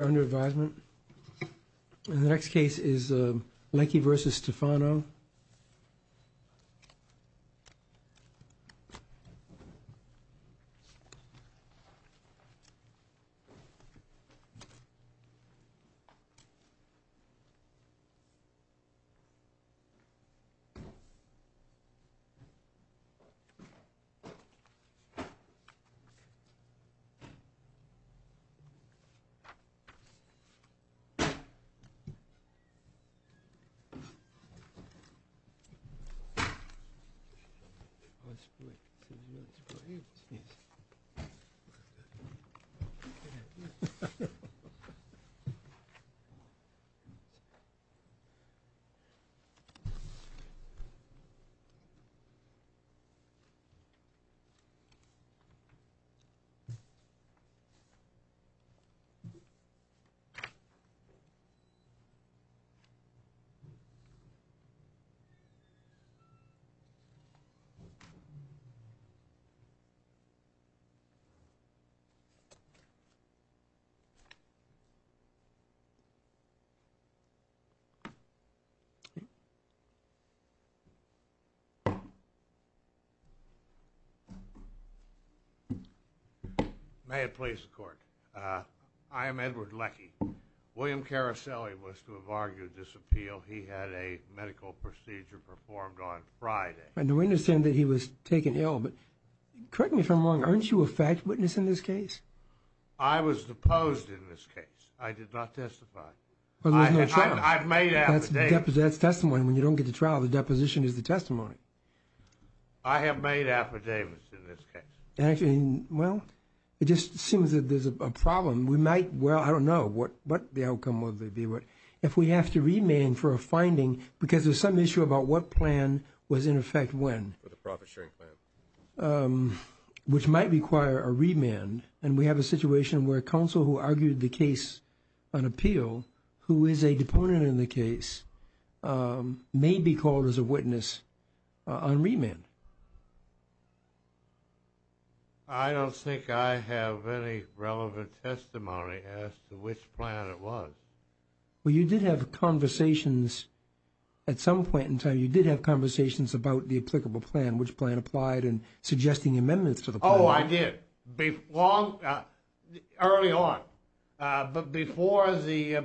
under advisement. The next case is Leckey v. Stefano. Leckey v. Stefano under advisement. May it please the court. I am Edward Leckey. William Caroselli was to have argued this appeal. He had a medical procedure performed on Friday. And we understand that he was taken ill, but correct me if I'm wrong, aren't you a fact witness in this case? I was deposed in this case. I did not testify. I've made affidavits. That's testimony. When you don't get to trial, the deposition is the testimony. I have made affidavits in this case. Actually, well, it just seems that there's a problem. We might, well, I don't know what the outcome would be. If we have to remand for a finding because there's some issue about what plan was in effect when. For the profit sharing plan. Which might require a remand. And we have a situation where counsel who argued the case on appeal, who is a deponent in the case, may be called as a witness on remand. I don't think I have any relevant testimony as to which plan it was. Well, you did have conversations at some point in time. You did have conversations about the applicable plan, which plan applied and suggesting amendments to the plan. Oh, I did. Early on. But before the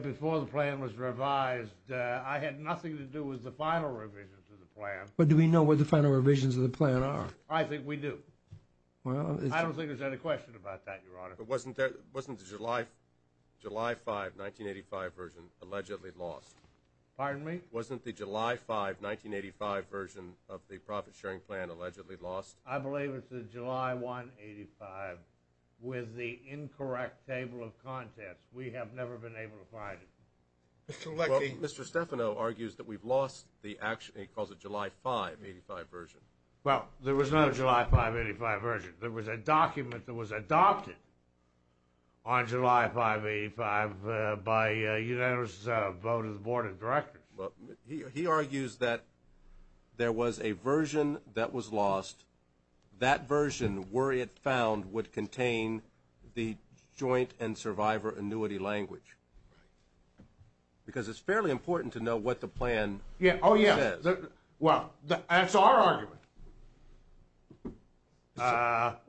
plan was revised, I had nothing to do with the final revision to the plan. But do we know what the final revisions of the plan are? I think we do. I don't think there's any question about that, Your Honor. But wasn't the July 5, 1985 version allegedly lost? Pardon me? Wasn't the July 5, 1985 version of the profit sharing plan allegedly lost? I believe it's the July 1, 1985. With the incorrect table of contents, we have never been able to find it. Mr. Stefano argues that we've lost the July 5, 1985 version. Well, there was no July 5, 1985 version. There was a document that was adopted on July 5, 1985 by a unanimous vote of the Board of Directors. He argues that there was a version that was lost. That version, were it found, would contain the joint and survivor annuity language. Right. Because it's fairly important to know what the plan says. Oh, yeah. Well, that's our argument. Mr.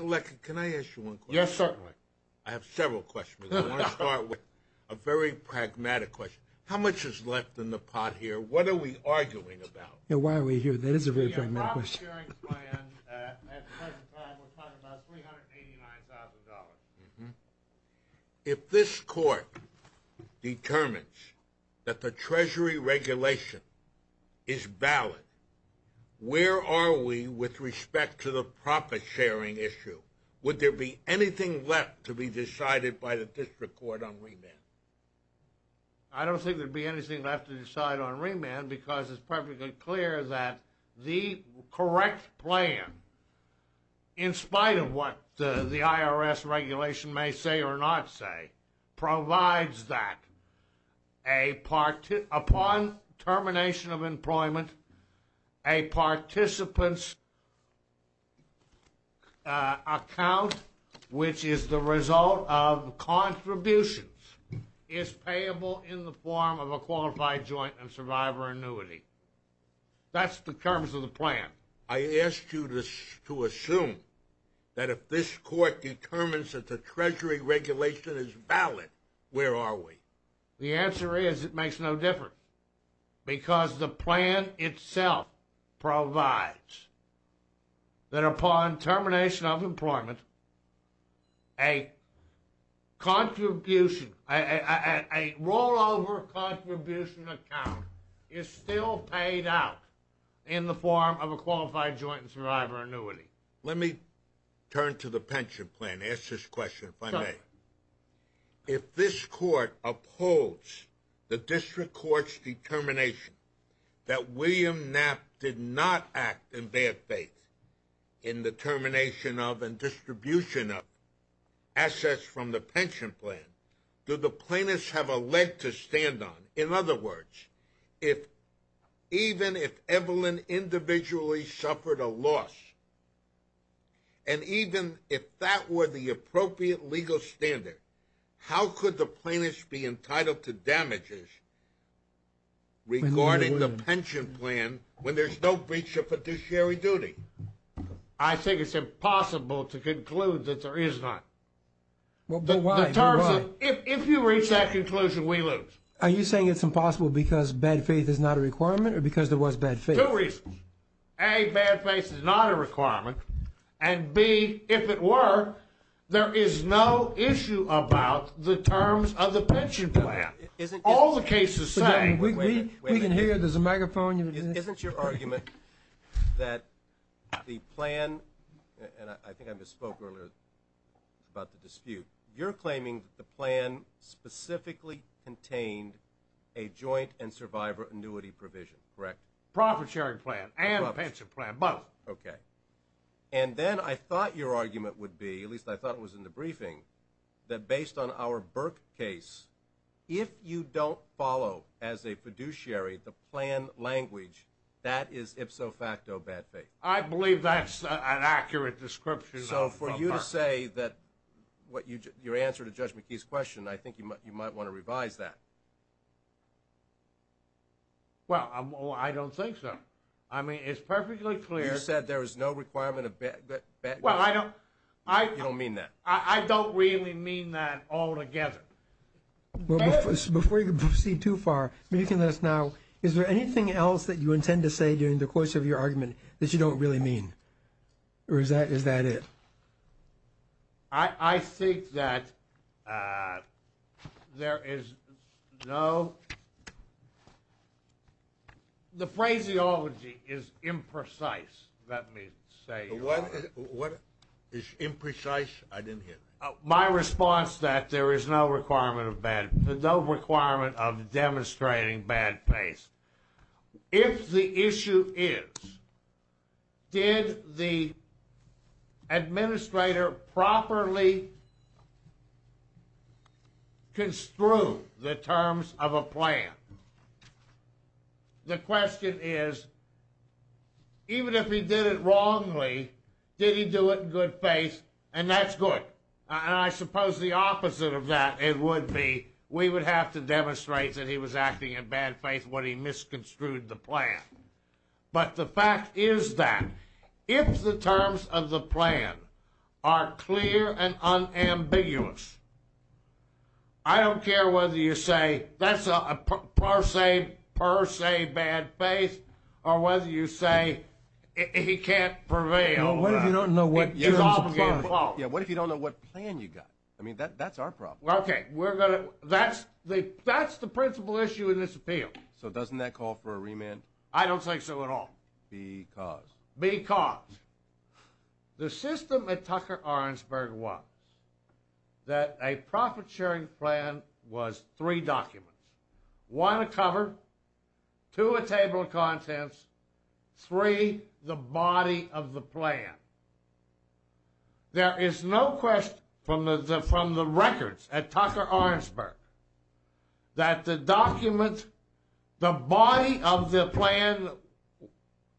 Leck, can I ask you one question? Yes, sir. I have several questions. I want to start with a very pragmatic question. How much is left in the pot here? What are we arguing about? Yeah, why are we here? That is a very pragmatic question. The profit sharing plan, at the present time, we're talking about $389,000. Mm-hmm. If this Court determines that the Treasury regulation is valid, where are we with respect to the profit sharing issue? Would there be anything left to be decided by the District Court on remand? I don't think there would be anything left to decide on remand because it's perfectly clear that the correct plan, in spite of what the IRS regulation may say or not say, a participant's account, which is the result of contributions, is payable in the form of a qualified joint and survivor annuity. That's the terms of the plan. I ask you to assume that if this Court determines that the Treasury regulation is valid, where are we? The answer is it makes no difference because the plan itself provides that upon termination of employment, a rollover contribution account is still paid out in the form of a qualified joint and survivor annuity. Let me turn to the pension plan. Ask this question if I may. If this Court upholds the District Court's determination that William Knapp did not act in bad faith in the termination of and distribution of assets from the pension plan, do the plaintiffs have a leg to stand on? In other words, even if Evelyn individually suffered a loss and even if that were the appropriate legal standard, how could the plaintiffs be entitled to damages regarding the pension plan when there's no breach of fiduciary duty? I think it's impossible to conclude that there is not. If you reach that conclusion, we lose. Are you saying it's impossible because bad faith is not a requirement or because there was bad faith? Two reasons. A, bad faith is not a requirement, and B, if it were, there is no issue about the terms of the pension plan. All the cases say that. We can hear you. There's a microphone. Isn't your argument that the plan, and I think I misspoke earlier about the dispute, you're claiming that the plan specifically contained a joint and survivor annuity provision, correct? Profit-sharing plan and pension plan, both. Okay. And then I thought your argument would be, at least I thought it was in the briefing, that based on our Burke case, if you don't follow as a fiduciary the plan language, that is ipso facto bad faith. I believe that's an accurate description of Burke. So for you to say that your answer to Judge McKee's question, I think you might want to revise that. Well, I don't think so. I mean, it's perfectly clear. You said there is no requirement of bad faith. Well, I don't. You don't mean that. I don't really mean that altogether. Before you proceed too far, maybe you can let us know, is there anything else that you intend to say during the course of your argument that you don't really mean? Or is that it? I think that there is no... The phraseology is imprecise, let me say. What is imprecise? I didn't hear that. My response is that there is no requirement of bad faith, no requirement of demonstrating bad faith. If the issue is, did the administrator properly construe the terms of a plan? The question is, even if he did it wrongly, did he do it in good faith? And that's good. And I suppose the opposite of that, it would be, we would have to demonstrate that he was acting in bad faith when he misconstrued the plan. But the fact is that, if the terms of the plan are clear and unambiguous, I don't care whether you say, that's a per se bad faith, or whether you say he can't prevail. What if you don't know what terms of plan... Yeah, what if you don't know what plan you got? I mean, that's our problem. Okay, that's the principal issue in this appeal. So doesn't that call for a remand? I don't think so at all. Because? Because. The system at Tucker-Orensburg was that a profit-sharing plan was three documents. One, a cover. Two, a table of contents. Three, the body of the plan. There is no question from the records at Tucker-Orensburg that the document, the body of the plan,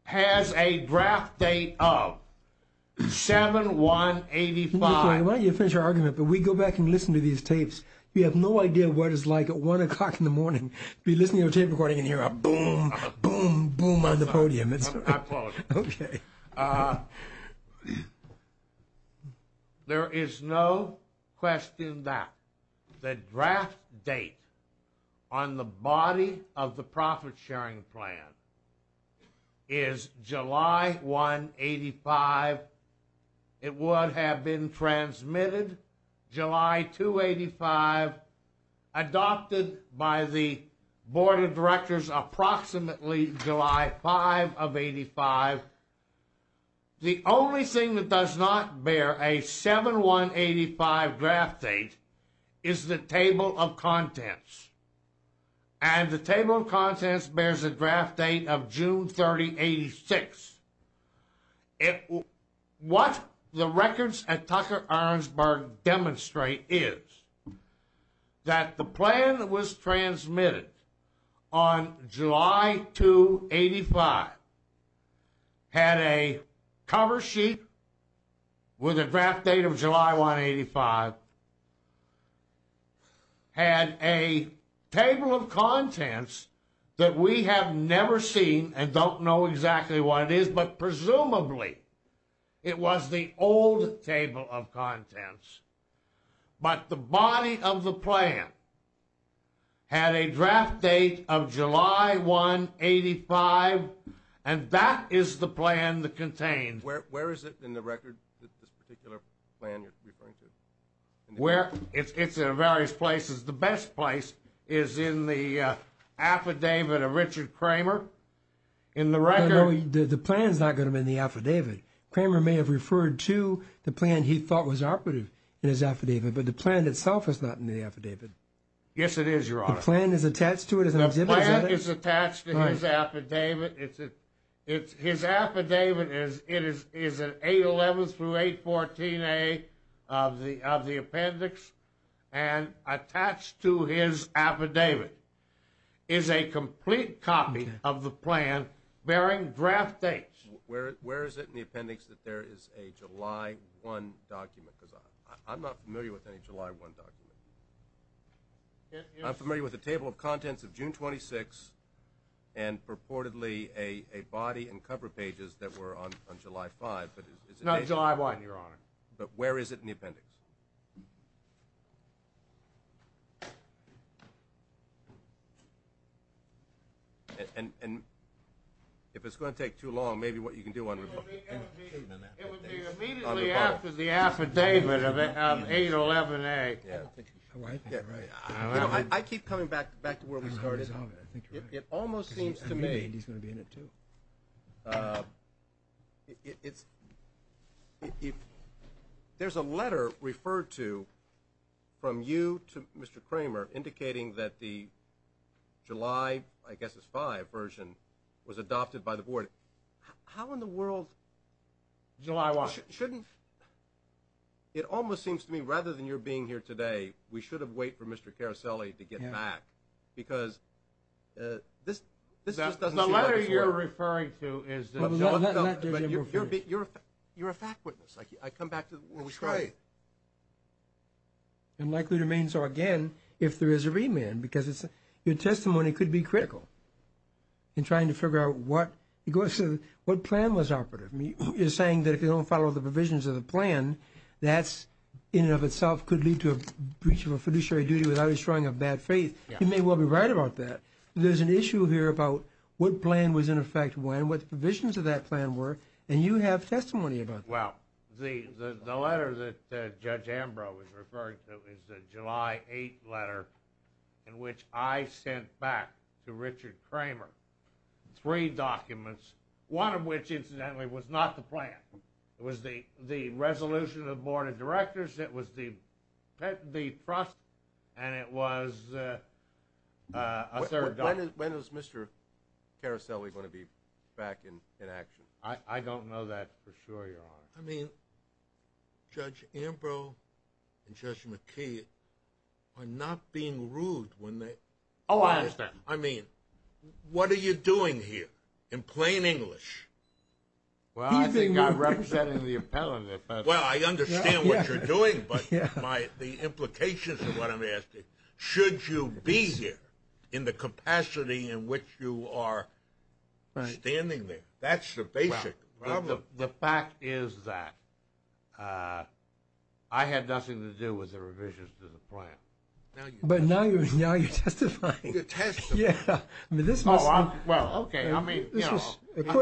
has a draft date of 7-1-85. Why don't you finish your argument, but we go back and listen to these tapes. You have no idea what it's like at one o'clock in the morning to be listening to a tape recording and hear a boom, boom, boom on the podium. I apologize. Okay. There is no question that the draft date on the body of the profit-sharing plan is July 1-85. It would have been transmitted July 2-85, adopted by the Board of Directors approximately July 5 of 85. The only thing that does not bear a 7-1-85 draft date is the table of contents. And the table of contents bears a draft date of June 30-86. What the records at Tucker-Orensburg demonstrate is that the plan was transmitted on July 2-85, had a cover sheet with a draft date of July 1-85, had a table of contents that we have never seen and don't know exactly what it is, but presumably it was the old table of contents. But the body of the plan had a draft date of July 1-85, and that is the plan that contains. Where is it in the record, this particular plan you're referring to? It's in various places. The best place is in the affidavit of Richard Cramer. In the record... No, no, the plan's not going to be in the affidavit. Cramer may have referred to the plan he thought was operative in his affidavit, but the plan itself is not in the affidavit. Yes, it is, Your Honor. The plan is attached to it? The plan is attached to his affidavit. His affidavit is an 811-814-A of the appendix, and attached to his affidavit is a complete copy of the plan bearing draft dates. Where is it in the appendix that there is a July 1 document? Because I'm not familiar with any July 1 document. I'm familiar with a table of contents of June 26th and purportedly a body and cover pages that were on July 5th. Not July 1, Your Honor. But where is it in the appendix? And if it's going to take too long, maybe what you can do on... It would be immediately after the affidavit of 811-A. I keep coming back to where we started. It almost seems to me there's a letter referred to from you to Mr. Cramer indicating that the July, I guess it's 5 version, was adopted by the board. How in the world... July 1. Shouldn't... It almost seems to me rather than your being here today, we should have waited for Mr. Caruselli to get back because this just doesn't seem like it's working. The letter you're referring to is... But you're a fact witness. I come back to where we started. That's right. And likely to remain so again if there is a remand because your testimony could be critical in trying to figure out what plan was operative. You're saying that if you don't follow the provisions of the plan, that in and of itself could lead to a breach of a fiduciary duty without restoring a bad faith. You may well be right about that. There's an issue here about what plan was in effect when, what the provisions of that plan were, and you have testimony about that. Well, the letter that Judge Ambrose referred to is the July 8th letter in which I sent back to Richard Kramer three documents, one of which incidentally was not the plan. It was the resolution of the Board of Directors, it was the trust, and it was a third document. When is Mr. Caruselli going to be back in action? I don't know that for sure, Your Honor. I mean, Judge Ambrose and Judge McKee are not being rude. Oh, I understand. I mean, what are you doing here in plain English? Well, I think I'm representing the appellant. Well, I understand what you're doing, but the implications of what I'm asking, should you be here in the capacity in which you are standing there? That's the basic problem. Look, the fact is that I had nothing to do with the revisions to the plan. But now you're testifying. You're testifying. Yeah. Well, okay, I mean, you know, I'm sorry about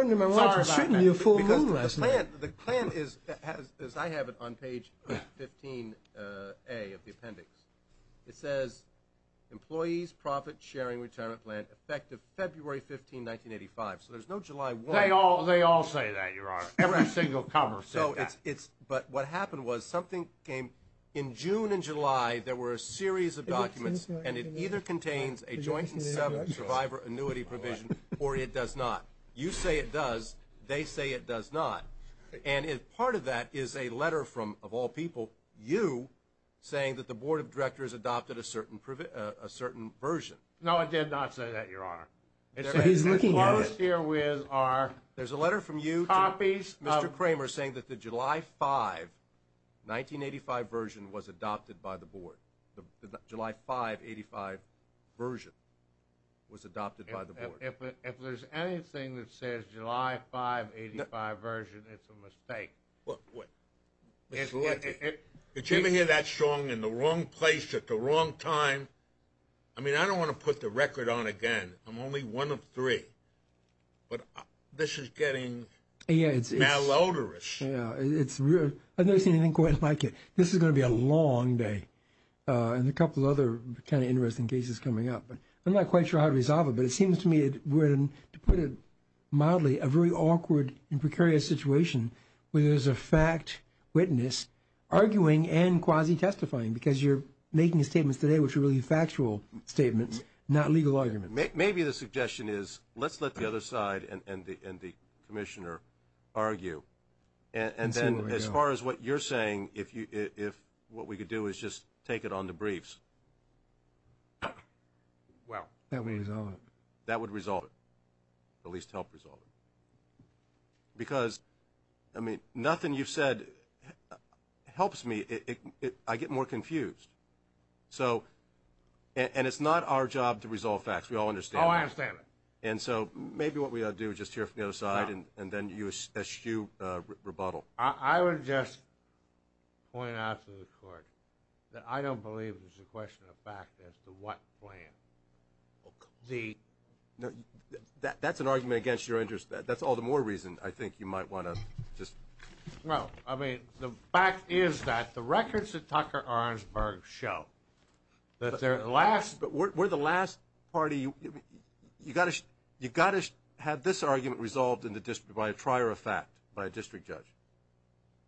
that. Because the plan is, as I have it on page 15A of the appendix, it says, employees profit-sharing retirement plan effective February 15, 1985. So there's no July 1. They all say that, Your Honor, every single cover. But what happened was something came in June and July. There were a series of documents, and it either contains a joint survivor annuity provision or it does not. You say it does. They say it does not. And part of that is a letter from, of all people, you saying that the Board of Directors adopted a certain version. No, it did not say that, Your Honor. He's looking at it. There's a letter from you to Mr. Kramer saying that the July 5, 1985, version was adopted by the Board. The July 5, 85 version was adopted by the Board. If there's anything that says July 5, 85 version, it's a mistake. Did you ever hear that song, in the wrong place at the wrong time? I mean, I don't want to put the record on again. I'm only one of three, but this is getting malodorous. I've never seen anything quite like it. This is going to be a long day and a couple of other kind of interesting cases coming up. I'm not quite sure how to resolve it, but it seems to me, to put it mildly, a very awkward and precarious situation where there's a fact witness arguing and quasi-testifying because you're making statements today which are really factual statements, not legal arguments. Maybe the suggestion is let's let the other side and the Commissioner argue. And then as far as what you're saying, if what we could do is just take it on to briefs. Well, that would resolve it, at least help resolve it. Because, I mean, nothing you've said helps me. I get more confused. And it's not our job to resolve facts. We all understand that. Oh, I understand that. And so maybe what we ought to do is just hear from the other side and then you eschew rebuttal. I would just point out to the Court that I don't believe there's a question of fact as to what plan. That's an argument against your interest. That's all the more reason I think you might want to just— Well, I mean, the fact is that the records at Tucker-Arnsberg show that their last— But we're the last party. You've got to have this argument resolved by a trier of fact, by a district judge.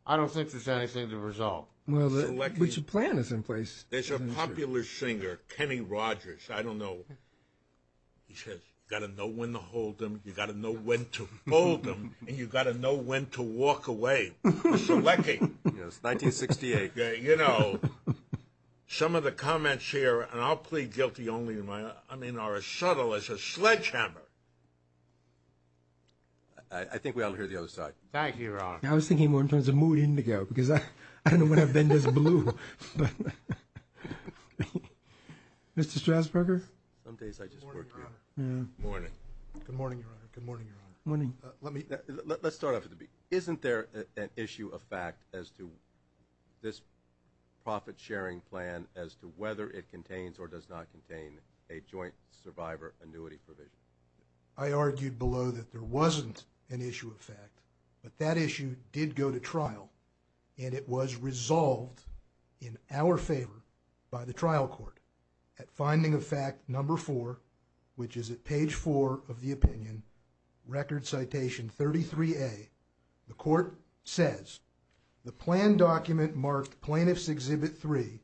I don't think there's anything to resolve. Well, but your plan is in place. There's a popular singer, Kenny Rogers, I don't know. He says, you've got to know when to hold them, you've got to know when to hold them, and you've got to know when to walk away. Selecting. Yes, 1968. You know, some of the comments here, and I'll plead guilty only in my— I mean, are as subtle as a sledgehammer. I think we ought to hear the other side. Thank you, Your Honor. I was thinking more in terms of mood indigo because I don't know when I've been this blue. Mr. Strasburger? Some days I just work here. Good morning, Your Honor. Good morning. Good morning, Your Honor. Good morning, Your Honor. Good morning. Let's start off at the beginning. Isn't there an issue of fact as to this profit-sharing plan as to whether it contains or does not contain a joint survivor annuity provision? I argued below that there wasn't an issue of fact, but that issue did go to trial, and it was resolved in our favor by the trial court at finding of fact number four, which is at page four of the opinion, record citation 33A. The court says the plan document marked Plaintiff's Exhibit 3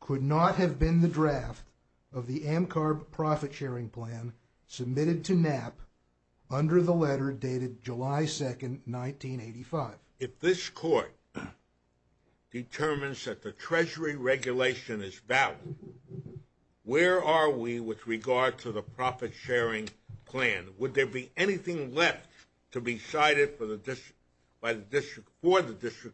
could not have been the draft of the AMCARB profit-sharing plan submitted to Knapp under the letter dated July 2nd, 1985. If this court determines that the Treasury regulation is valid, where are we with regard to the profit-sharing plan? Would there be anything left to be cited for the district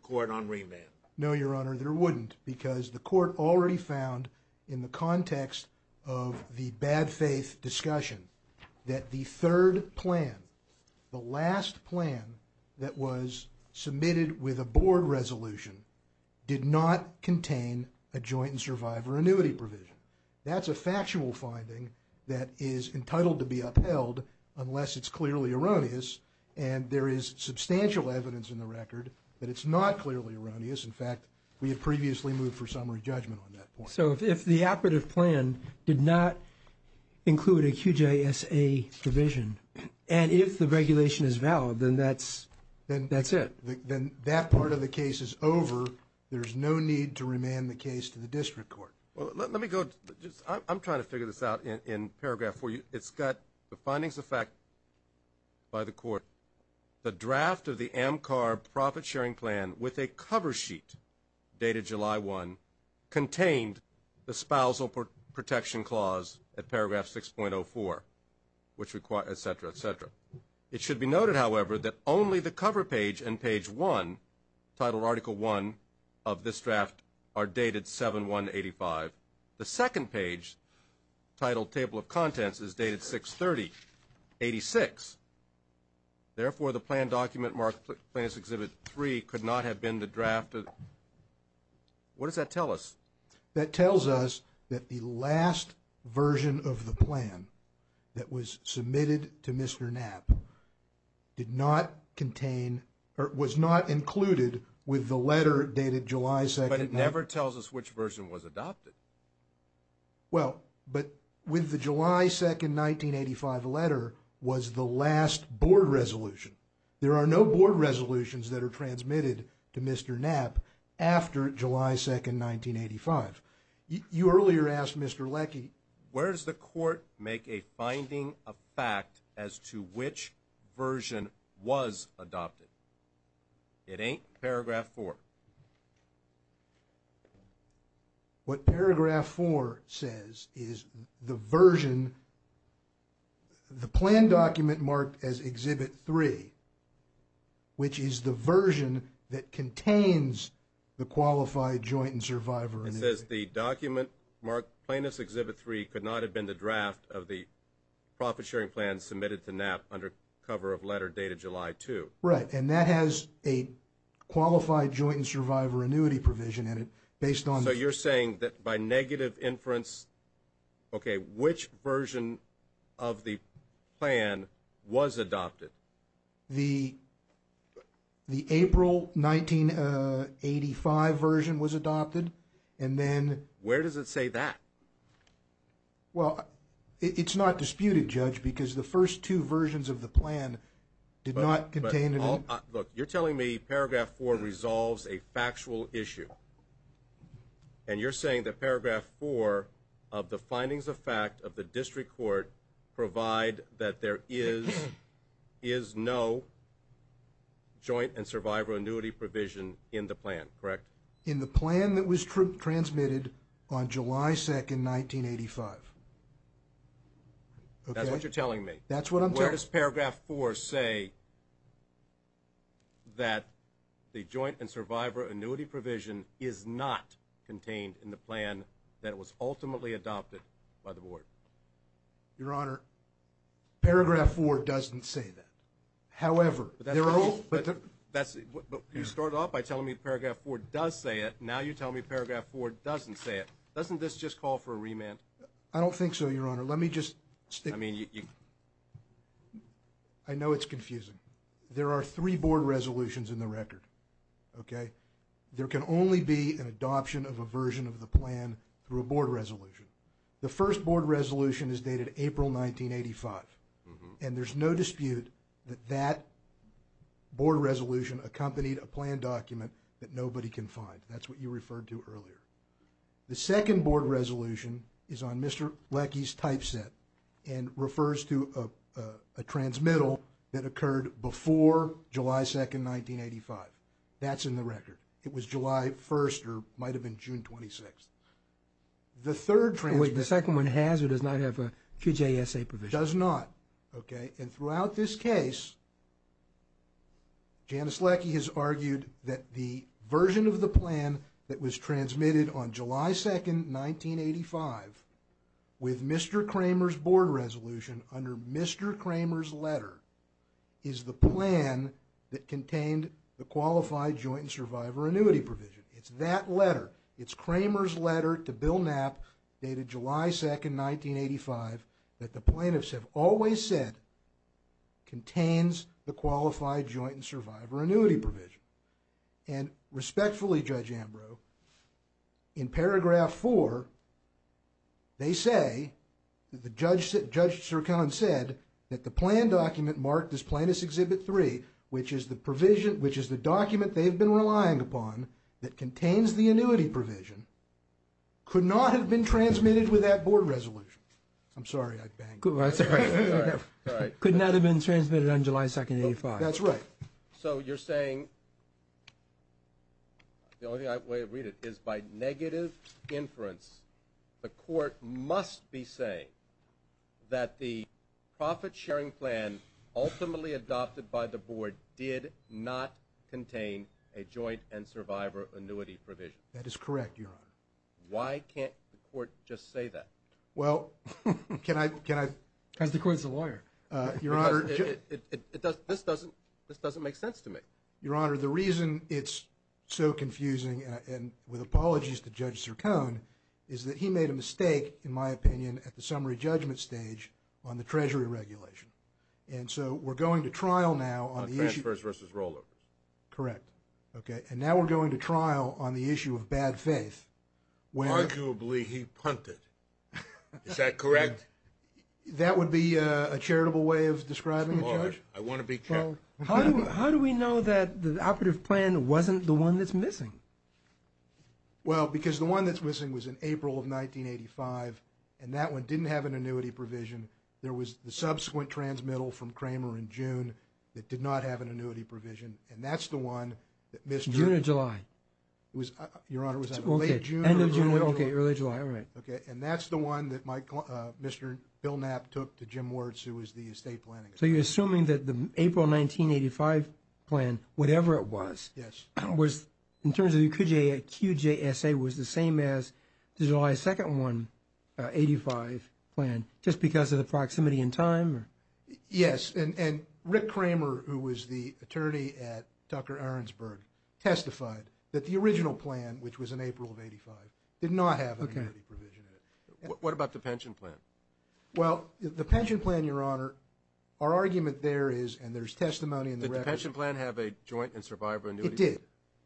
court on remand? No, Your Honor, there wouldn't because the court already found in the context of the submitted with a board resolution did not contain a joint survivor annuity provision. That's a factual finding that is entitled to be upheld unless it's clearly erroneous, and there is substantial evidence in the record that it's not clearly erroneous. In fact, we had previously moved for summary judgment on that point. So if the operative plan did not include a QJSA provision, and if the regulation is valid, then that's it. Then that part of the case is over. There's no need to remand the case to the district court. Well, let me go. I'm trying to figure this out in paragraph 4. It's got the findings of fact by the court. The draft of the AMCARB profit-sharing plan with a cover sheet dated July 1 contained the spousal protection clause at paragraph 6.04, et cetera, et cetera. It should be noted, however, that only the cover page and page 1, titled Article 1 of this draft, are dated 7-1-85. The second page, titled Table of Contents, is dated 6-30-86. Therefore, the plan document marked Plans Exhibit 3 could not have been the draft. What does that tell us? That tells us that the last version of the plan that was submitted to Mr. Knapp did not contain or was not included with the letter dated July 2nd. But it never tells us which version was adopted. Well, but with the July 2nd, 1985 letter was the last board resolution. There are no board resolutions that are transmitted to Mr. Knapp after July 2nd, 1985. You earlier asked Mr. Leckie, where does the court make a finding of fact as to which version was adopted? It ain't paragraph 4. What paragraph 4 says is the version, the plan document marked as Exhibit 3, which is the version that contains the qualified joint and survivor. It says the document marked Plans Exhibit 3 could not have been the draft of the profit-sharing plan submitted to Knapp under cover of letter dated July 2nd. Right, and that has a qualified joint and survivor annuity provision in it. So you're saying that by negative inference, okay, which version of the plan was adopted? The April 1985 version was adopted. Where does it say that? Well, it's not disputed, Judge, because the first two versions of the plan did not contain it. Look, you're telling me paragraph 4 resolves a factual issue, and you're saying that paragraph 4 of the findings of fact of the district court provide that there is no joint and survivor annuity provision in the plan, correct? In the plan that was transmitted on July 2nd, 1985. Okay. That's what you're telling me. That's what I'm telling you. Where does paragraph 4 say that the joint and survivor annuity provision is not contained in the plan that was ultimately adopted by the board? Your Honor, paragraph 4 doesn't say that. However, there are all the different... But you start off by telling me paragraph 4 does say it. Now you tell me paragraph 4 doesn't say it. Doesn't this just call for a remand? I don't think so, Your Honor. Let me just... I know it's confusing. There are three board resolutions in the record, okay? There can only be an adoption of a version of the plan through a board resolution. The first board resolution is dated April 1985, and there's no dispute that that board resolution accompanied a plan document that nobody can find. That's what you referred to earlier. The second board resolution is on Mr. Leckie's typeset and refers to a transmittal that occurred before July 2nd, 1985. That's in the record. It was July 1st or might have been June 26th. The third transmittal... The second one has or does not have a QJSA provision? Does not, okay? And throughout this case, Janice Leckie has argued that the version of the plan that was transmitted on July 2nd, 1985 with Mr. Kramer's board resolution under Mr. Kramer's letter is the plan that contained the Qualified Joint Survivor Annuity provision. It's that letter. It's Kramer's letter to Bill Knapp dated July 2nd, 1985 that the plaintiffs have always said contains the Qualified Joint Survivor Annuity provision. And respectfully, Judge Ambrose, in paragraph 4, they say that Judge Sircone said that the plan document marked as Plaintiff's Exhibit 3, which is the document they've been relying upon that contains the annuity provision, could not have been transmitted with that board resolution. I'm sorry, I banged. That's all right. Could not have been transmitted on July 2nd, 1985. That's right. So you're saying, the only way I read it is by negative inference, the court must be saying that the profit-sharing plan ultimately adopted by the board did not contain a Joint and Survivor Annuity provision. That is correct, Your Honor. Why can't the court just say that? Well, can I... Because the court is a lawyer. Your Honor... This doesn't make sense to me. Your Honor, the reason it's so confusing, and with apologies to Judge Sircone, is that he made a mistake, in my opinion, at the summary judgment stage on the Treasury regulation. And so we're going to trial now on the issue... On transfers versus rollovers. Correct. And now we're going to trial on the issue of bad faith. Arguably, he punted. Is that correct? That would be a charitable way of describing it, Judge. I want to be checked. How do we know that the operative plan wasn't the one that's missing? Well, because the one that's missing was in April of 1985, and that one didn't have an annuity provision. There was the subsequent transmittal from Kramer in June that did not have an annuity provision, and that's the one that missed... June or July? Your Honor, was that late June or early July? Okay, early July, all right. Okay, and that's the one that Mr. Bill Knapp took to Jim Wirtz, who was the estate planning attorney. So you're assuming that the April 1985 plan, whatever it was, was, in terms of the QJSA, was the same as the July 2nd one, 85 plan, just because of the proximity in time? Yes, and Rick Kramer, who was the attorney at Tucker-Arensberg, testified that the original plan, which was in April of 1985, did not have an annuity provision in it. What about the pension plan? Well, the pension plan, Your Honor, our argument there is, and there's testimony in the record... Did the pension plan have a joint and survivor annuity? It did,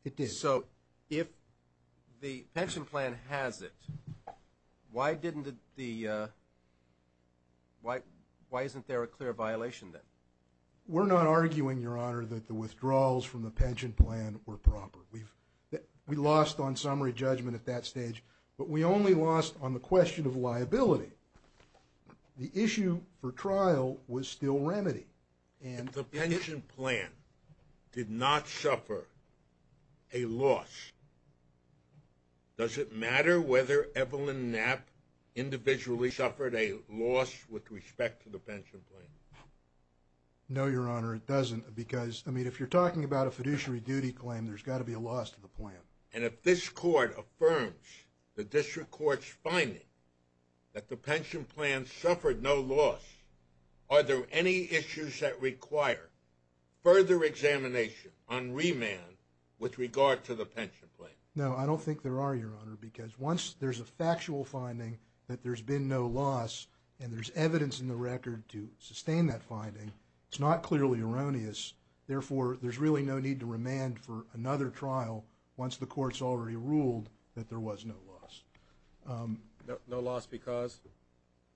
it did. So if the pension plan has it, why isn't there a clear violation then? We're not arguing, Your Honor, that the withdrawals from the pension plan were proper. We lost on summary judgment at that stage, but we only lost on the question of liability. The issue for trial was still remedy. If the pension plan did not suffer a loss, does it matter whether Evelyn Knapp individually suffered a loss with respect to the pension plan? No, Your Honor, it doesn't, because if you're talking about a fiduciary duty claim, there's got to be a loss to the plan. And if this Court affirms the district court's finding that the pension plan suffered no loss, are there any issues that require further examination on remand with regard to the pension plan? No, I don't think there are, Your Honor, because once there's a factual finding that there's been no loss and there's evidence in the record to sustain that finding, it's not clearly erroneous. Therefore, there's really no need to remand for another trial once the Court's already ruled that there was no loss. No loss because?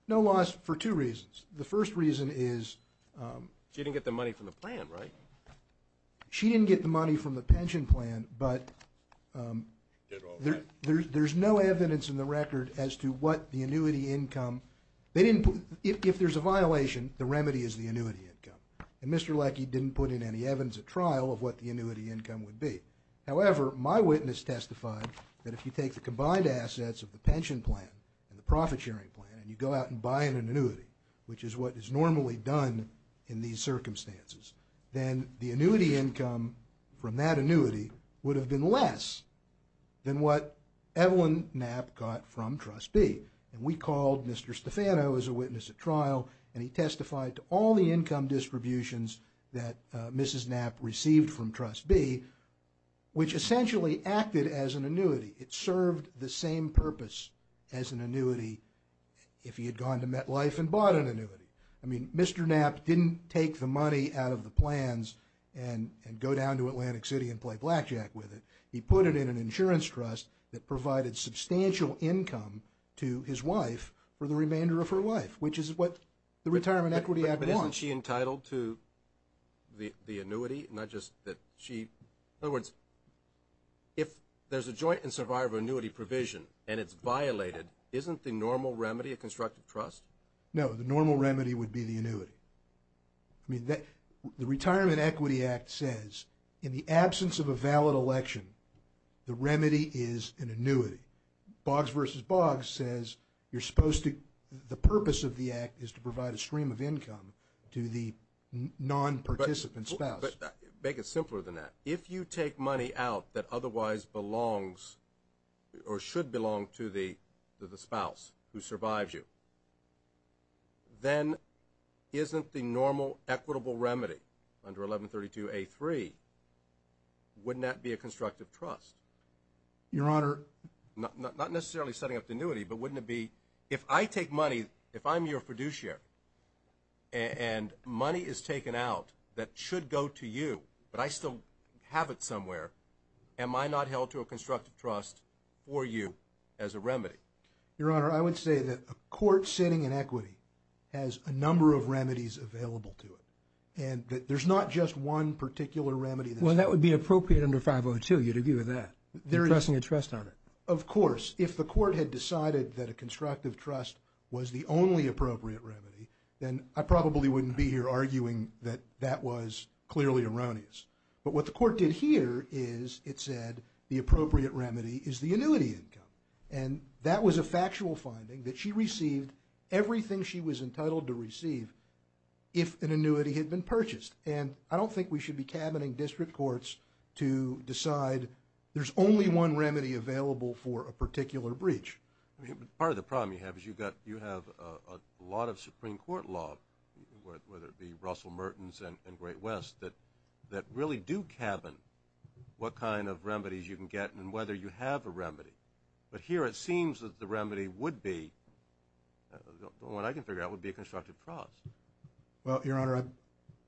No loss for two reasons. The first reason is... She didn't get the money from the plan, right? She didn't get the money from the pension plan, but there's no evidence in the record as to what the annuity income... If there's a violation, the remedy is the annuity income, and Mr. Leckie didn't put in any evidence at trial of what the annuity income would be. However, my witness testified that if you take the combined assets of the pension plan and the profit-sharing plan and you go out and buy in an annuity, which is what is normally done in these circumstances, then the annuity income from that annuity would have been less than what Evelyn Knapp got from Trust B. And we called Mr. Stefano as a witness at trial, and he testified to all the income distributions that Mrs. Knapp received from Trust B, which essentially acted as an annuity. It served the same purpose as an annuity if he had gone to MetLife and bought an annuity. I mean, Mr. Knapp didn't take the money out of the plans and go down to Atlantic City and play blackjack with it. He put it in an insurance trust that provided substantial income to his wife for the remainder of her life, which is what the Retirement Equity Act wants. But isn't she entitled to the annuity, not just that she... In other words, if there's a joint and survivor annuity provision and it's violated, isn't the normal remedy a constructive trust? No, the normal remedy would be the annuity. I mean, the Retirement Equity Act says in the absence of a valid election, the remedy is an annuity. Boggs v. Boggs says you're supposed to... The purpose of the act is to provide a stream of income to the non-participant spouse. But make it simpler than that. If you take money out that otherwise belongs or should belong to the spouse who survives you, then isn't the normal equitable remedy under 1132A3, wouldn't that be a constructive trust? Your Honor... Not necessarily setting up the annuity, but wouldn't it be... If I take money, if I'm your fiduciary and money is taken out that should go to you, but I still have it somewhere, am I not held to a constructive trust for you as a remedy? Your Honor, I would say that a court sitting in equity has a number of remedies available to it. And there's not just one particular remedy that's... Well, that would be appropriate under 502. You'd agree with that, entrusting a trust on it. Of course. If the court had decided that a constructive trust was the only appropriate remedy, then I probably wouldn't be here arguing that that was clearly erroneous. But what the court did here is it said the appropriate remedy is the annuity income. And that was a factual finding, that she received everything she was entitled to receive if an annuity had been purchased. And I don't think we should be cabining district courts to decide there's only one remedy available for a particular breach. Part of the problem you have is you have a lot of Supreme Court law, whether it be Russell Mertens and Great West, that really do cabin what kind of remedies you can get and whether you have a remedy. But here it seems that the remedy would be, the one I can figure out, would be a constructive trust. Well, Your Honor, I...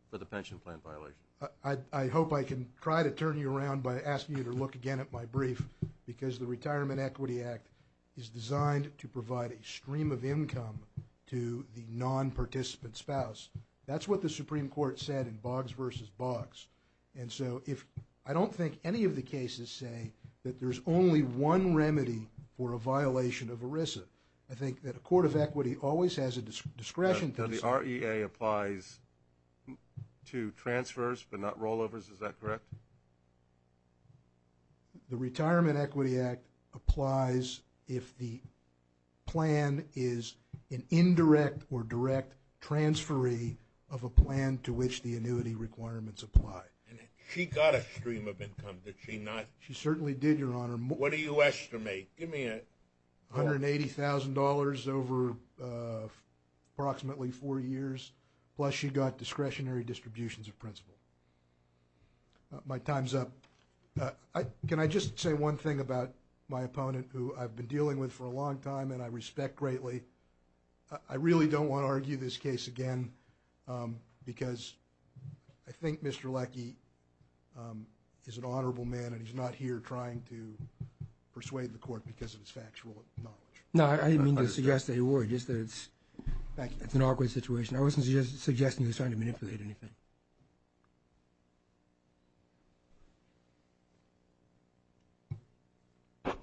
For the pension plan violation. I hope I can try to turn you around by asking you to look again at my brief because the Retirement Equity Act is designed to provide a stream of income to the nonparticipant spouse. That's what the Supreme Court said in Boggs v. Boggs. And so if... I don't think any of the cases say that there's only one remedy for a violation of ERISA. I think that a court of equity always has a discretion to... The REA applies to transfers but not rollovers, is that correct? The Retirement Equity Act applies if the plan is an indirect or direct transferee of a plan to which the annuity requirements apply. And she got a stream of income, did she not? She certainly did, Your Honor. What do you estimate? Give me a... $180,000 over approximately four years, plus she got discretionary distributions of principal. My time's up. Can I just say one thing about my opponent who I've been dealing with for a long time and I respect greatly? I really don't want to argue this case again because I think Mr. Leckie is an honorable man and he's not here trying to persuade the court because of his factual knowledge. No, I didn't mean to suggest that you were. Just that it's an awkward situation. I wasn't suggesting he was trying to manipulate anything. Good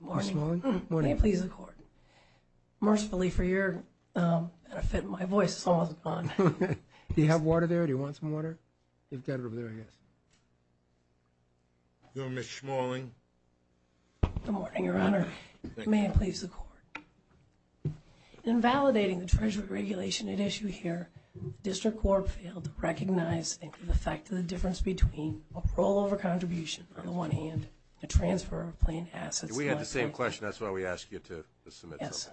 morning. Good morning. May it please the Court. Mercifully for your benefit, my voice is almost gone. Do you have water there? Do you want some water? You've got it over there, I guess. Good morning, Ms. Schmaling. Good morning, Your Honor. May it please the Court. In validating the Treasury regulation at issue here, District Court failed to recognize the effect of the difference between a rollover contribution on the one hand and a transfer of planned assets on the other. We had the same question, that's why we asked you to submit something. Yes.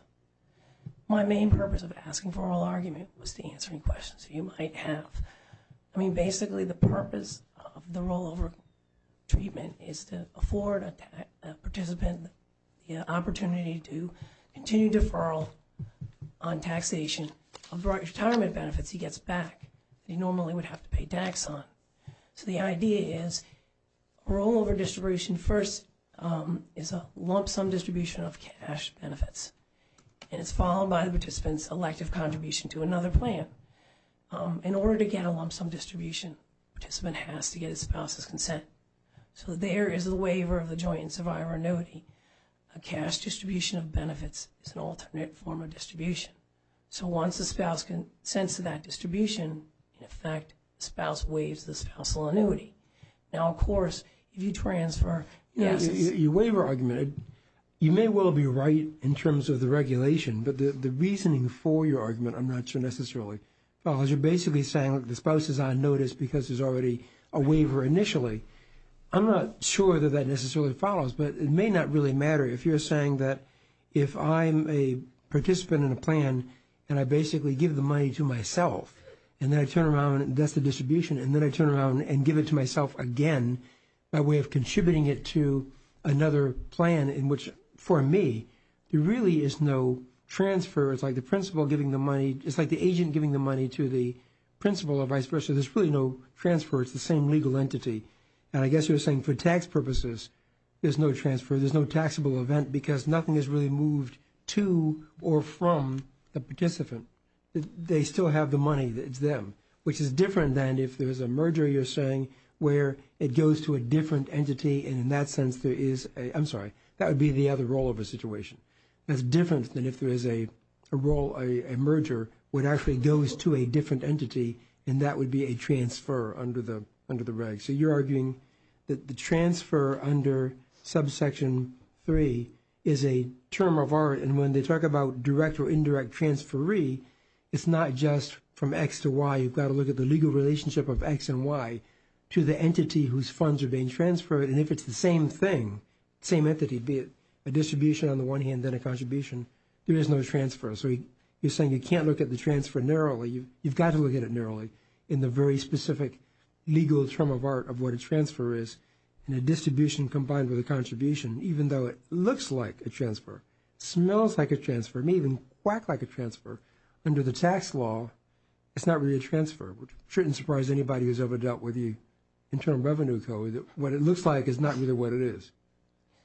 My main purpose of asking for oral argument was to answer any questions you might have. I mean, basically the purpose of the rollover treatment is to afford a participant the opportunity to continue deferral on taxation of retirement benefits he gets back that he normally would have to pay tax on. So the idea is rollover distribution first is a lump sum distribution of cash benefits. And it's followed by the participant's elective contribution to another plan. In order to get a lump sum distribution, the participant has to get his spouse's consent. So there is a waiver of the joint and survivor annuity. A cash distribution of benefits is an alternate form of distribution. So once the spouse consents to that distribution, in effect, the spouse waives the spousal annuity. Now, of course, if you transfer assets... Your waiver argument, you may well be right in terms of the regulation, but the reasoning for your argument I'm not sure necessarily follows. You're basically saying the spouse is on notice because there's already a waiver initially. I'm not sure that that necessarily follows, but it may not really matter if you're saying that if I'm a participant in a plan and I basically give the money to myself and then I turn around and that's the distribution and then I turn around and give it to myself again by way of contributing it to another plan in which, for me, there really is no transfer. It's like the agent giving the money to the principal or vice versa. There's really no transfer. It's the same legal entity. And I guess you're saying for tax purposes, there's no transfer, there's no taxable event because nothing is really moved to or from the participant. They still have the money. It's them. Which is different than if there's a merger, you're saying, where it goes to a different entity and in that sense there is a... I'm sorry, that would be the other role of a situation. It's different than if there is a merger where it actually goes to a different entity and that would be a transfer under the reg. So you're arguing that the transfer under subsection 3 is a term of art and when they talk about direct or indirect transferee, it's not just from X to Y. You've got to look at the legal relationship of X and Y to the entity whose funds are being transferred and if it's the same thing, same entity, be it a distribution on the one hand, then a contribution, there is no transfer. So you're saying you can't look at the transfer narrowly. You've got to look at it narrowly in the very specific legal term of art of what a transfer is in a distribution combined with a contribution even though it looks like a transfer, smells like a transfer, may even quack like a transfer, under the tax law, it's not really a transfer. It shouldn't surprise anybody who's ever dealt with the Internal Revenue Code that what it looks like is not really what it is.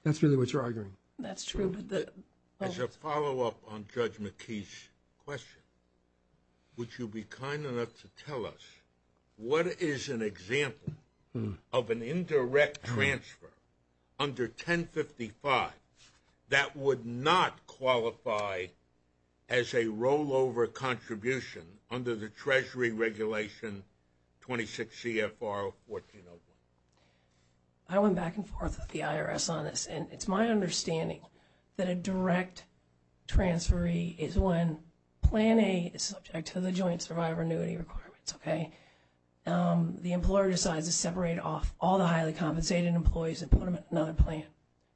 That's really what you're arguing. That's true. As a follow-up on Judge McKee's question, would you be kind enough to tell us what is an example of an indirect transfer under 1055 that would not qualify as a rollover contribution under the Treasury Regulation 26 CFR 1401? I went back and forth with the IRS on this, and it's my understanding that a direct transferee is when Plan A is subject to the Joint Survivor Annuity Requirements. The employer decides to separate off all the highly compensated employees and put them in another plan.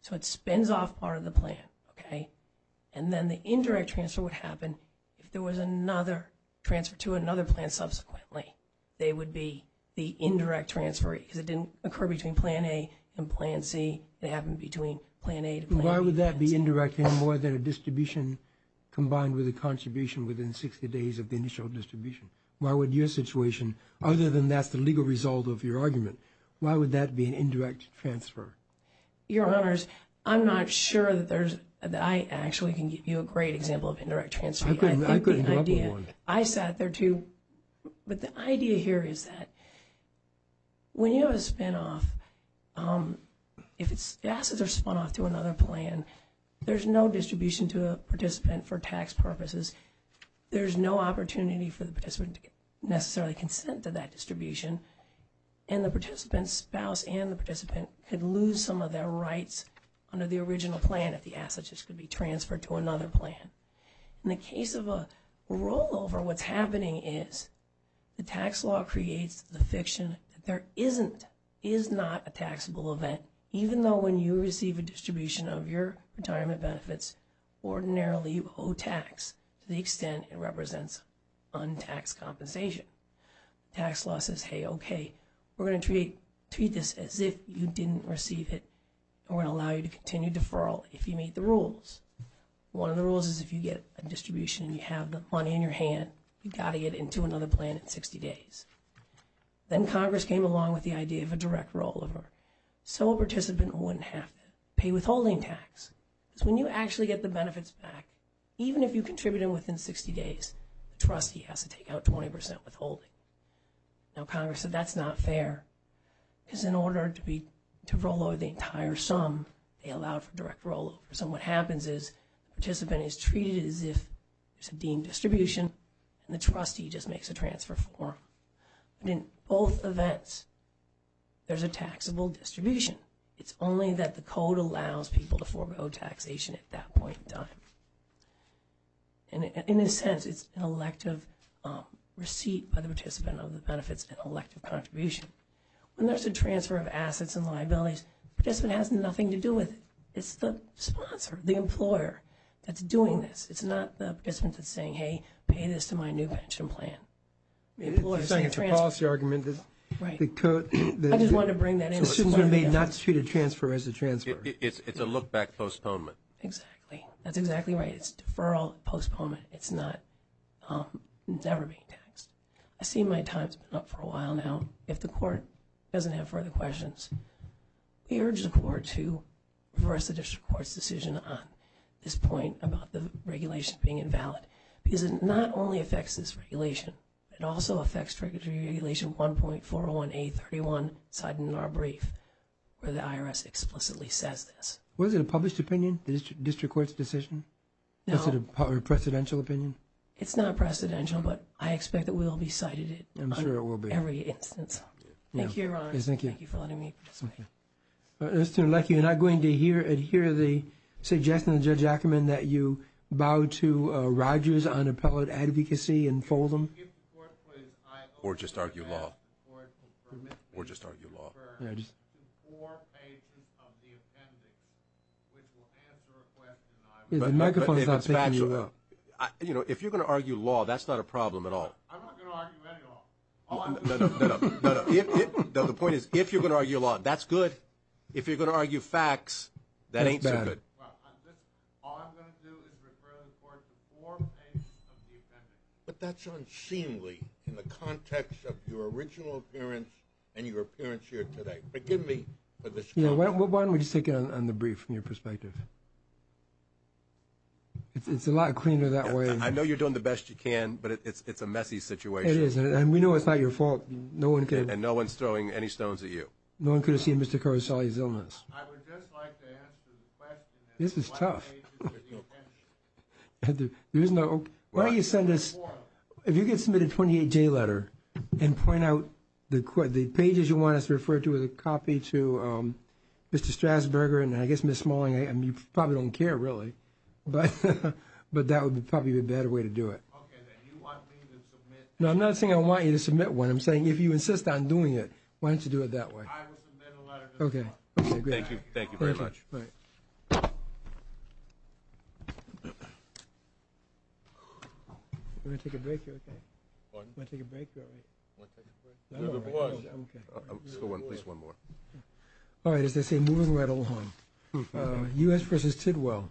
So it spins off part of the plan. And then the indirect transfer would happen if there was another transfer to another plan subsequently. They would be the indirect transferee because it didn't occur between Plan A and Plan C. It happened between Plan A to Plan B. Why would that be indirect any more than a distribution combined with a contribution within 60 days of the initial distribution? Why would your situation, other than that's the legal result of your argument, why would that be an indirect transfer? Your Honors, I'm not sure that I actually can give you a great example of indirect transfer. I couldn't come up with one. I sat there, too. But the idea here is that when you have a spinoff, if the assets are spun off to another plan, there's no distribution to a participant for tax purposes. There's no opportunity for the participant to necessarily consent to that distribution, and the participant's spouse and the participant could lose some of their rights under the original plan if the assets could be transferred to another plan. In the case of a rollover, what's happening is the tax law creates the fiction that there isn't, is not a taxable event, even though when you receive a distribution of your retirement benefits, ordinarily you owe tax to the extent it represents untaxed compensation. Tax law says, hey, okay, we're going to treat this as if you didn't receive it, and we're going to allow you to continue deferral if you meet the rules. One of the rules is if you get a distribution and you have the money in your hand, you've got to get it into another plan in 60 days. Then Congress came along with the idea of a direct rollover so a participant wouldn't have to pay withholding tax. Because when you actually get the benefits back, even if you contributed within 60 days, the trustee has to take out 20% withholding. Now, Congress said that's not fair because in order to roll over the entire sum, they allowed for direct rollover. So what happens is the participant is treated as if it's a deemed distribution and the trustee just makes a transfer form. In both events, there's a taxable distribution. It's only that the code allows people to forego taxation at that point in time. In a sense, it's an elective receipt by the participant of the benefits and elective contribution. When there's a transfer of assets and liabilities, the participant has nothing to do with it. It's the sponsor, the employer, that's doing this. It's not the participant that's saying, hey, pay this to my new pension plan. It's a policy argument. I just wanted to bring that in. The student may not treat a transfer as a transfer. It's a look-back postponement. Exactly. That's exactly right. It's deferral, postponement. It's never being taxed. I see my time has been up for a while now. If the court doesn't have further questions, we urge the court to reverse the district court's decision on this point about the regulation being invalid. Because it not only affects this regulation, it also affects Regulation 1.401A31, cited in our brief, where the IRS explicitly says this. Was it a published opinion, the district court's decision? No. Was it a presidential opinion? It's not presidential, but I expect that we'll be citing it on every instance. Thank you, Your Honor. Yes, thank you. Thank you for letting me participate. Mr. Leckie, you're not going to adhere to the suggestion of Judge Ackerman that you bow to Rogers on appellate advocacy and fold him? Or just argue law. Or just argue law. The microphone is not picking you up. You know, if you're going to argue law, that's not a problem at all. I'm not going to argue any law. No, the point is, if you're going to argue law, that's good. If you're going to argue facts, that ain't so good. All I'm going to do is refer the court to four pages of the appendix. But that's unseemly in the context of your original appearance and your appearance here today. Forgive me for this comment. Why don't we just take it on the brief from your perspective? It's a lot cleaner that way. I know you're doing the best you can, but it's a messy situation. It is. And we know it's not your fault. And no one's throwing any stones at you. No one could have seen Mr. Caruselli's illness. I would just like to answer the question. This is tough. Why don't you send us, if you could submit a 28-J letter and point out the pages you want us to refer to as a copy to Mr. Strasburger and I guess Ms. Smalling. You probably don't care, really. But that would probably be a better way to do it. No, I'm not saying I want you to submit one. I'm saying if you insist on doing it, why don't you do it that way? I will submit a letter to the court. Okay. Thank you. Thank you very much. All right. We're going to take a break here, okay? Pardon? We're going to take a break here, all right? We're going to take a break. We're the board. Okay. Let's go one place one more. All right. As they say, moving right along. U.S. v. Tidwell.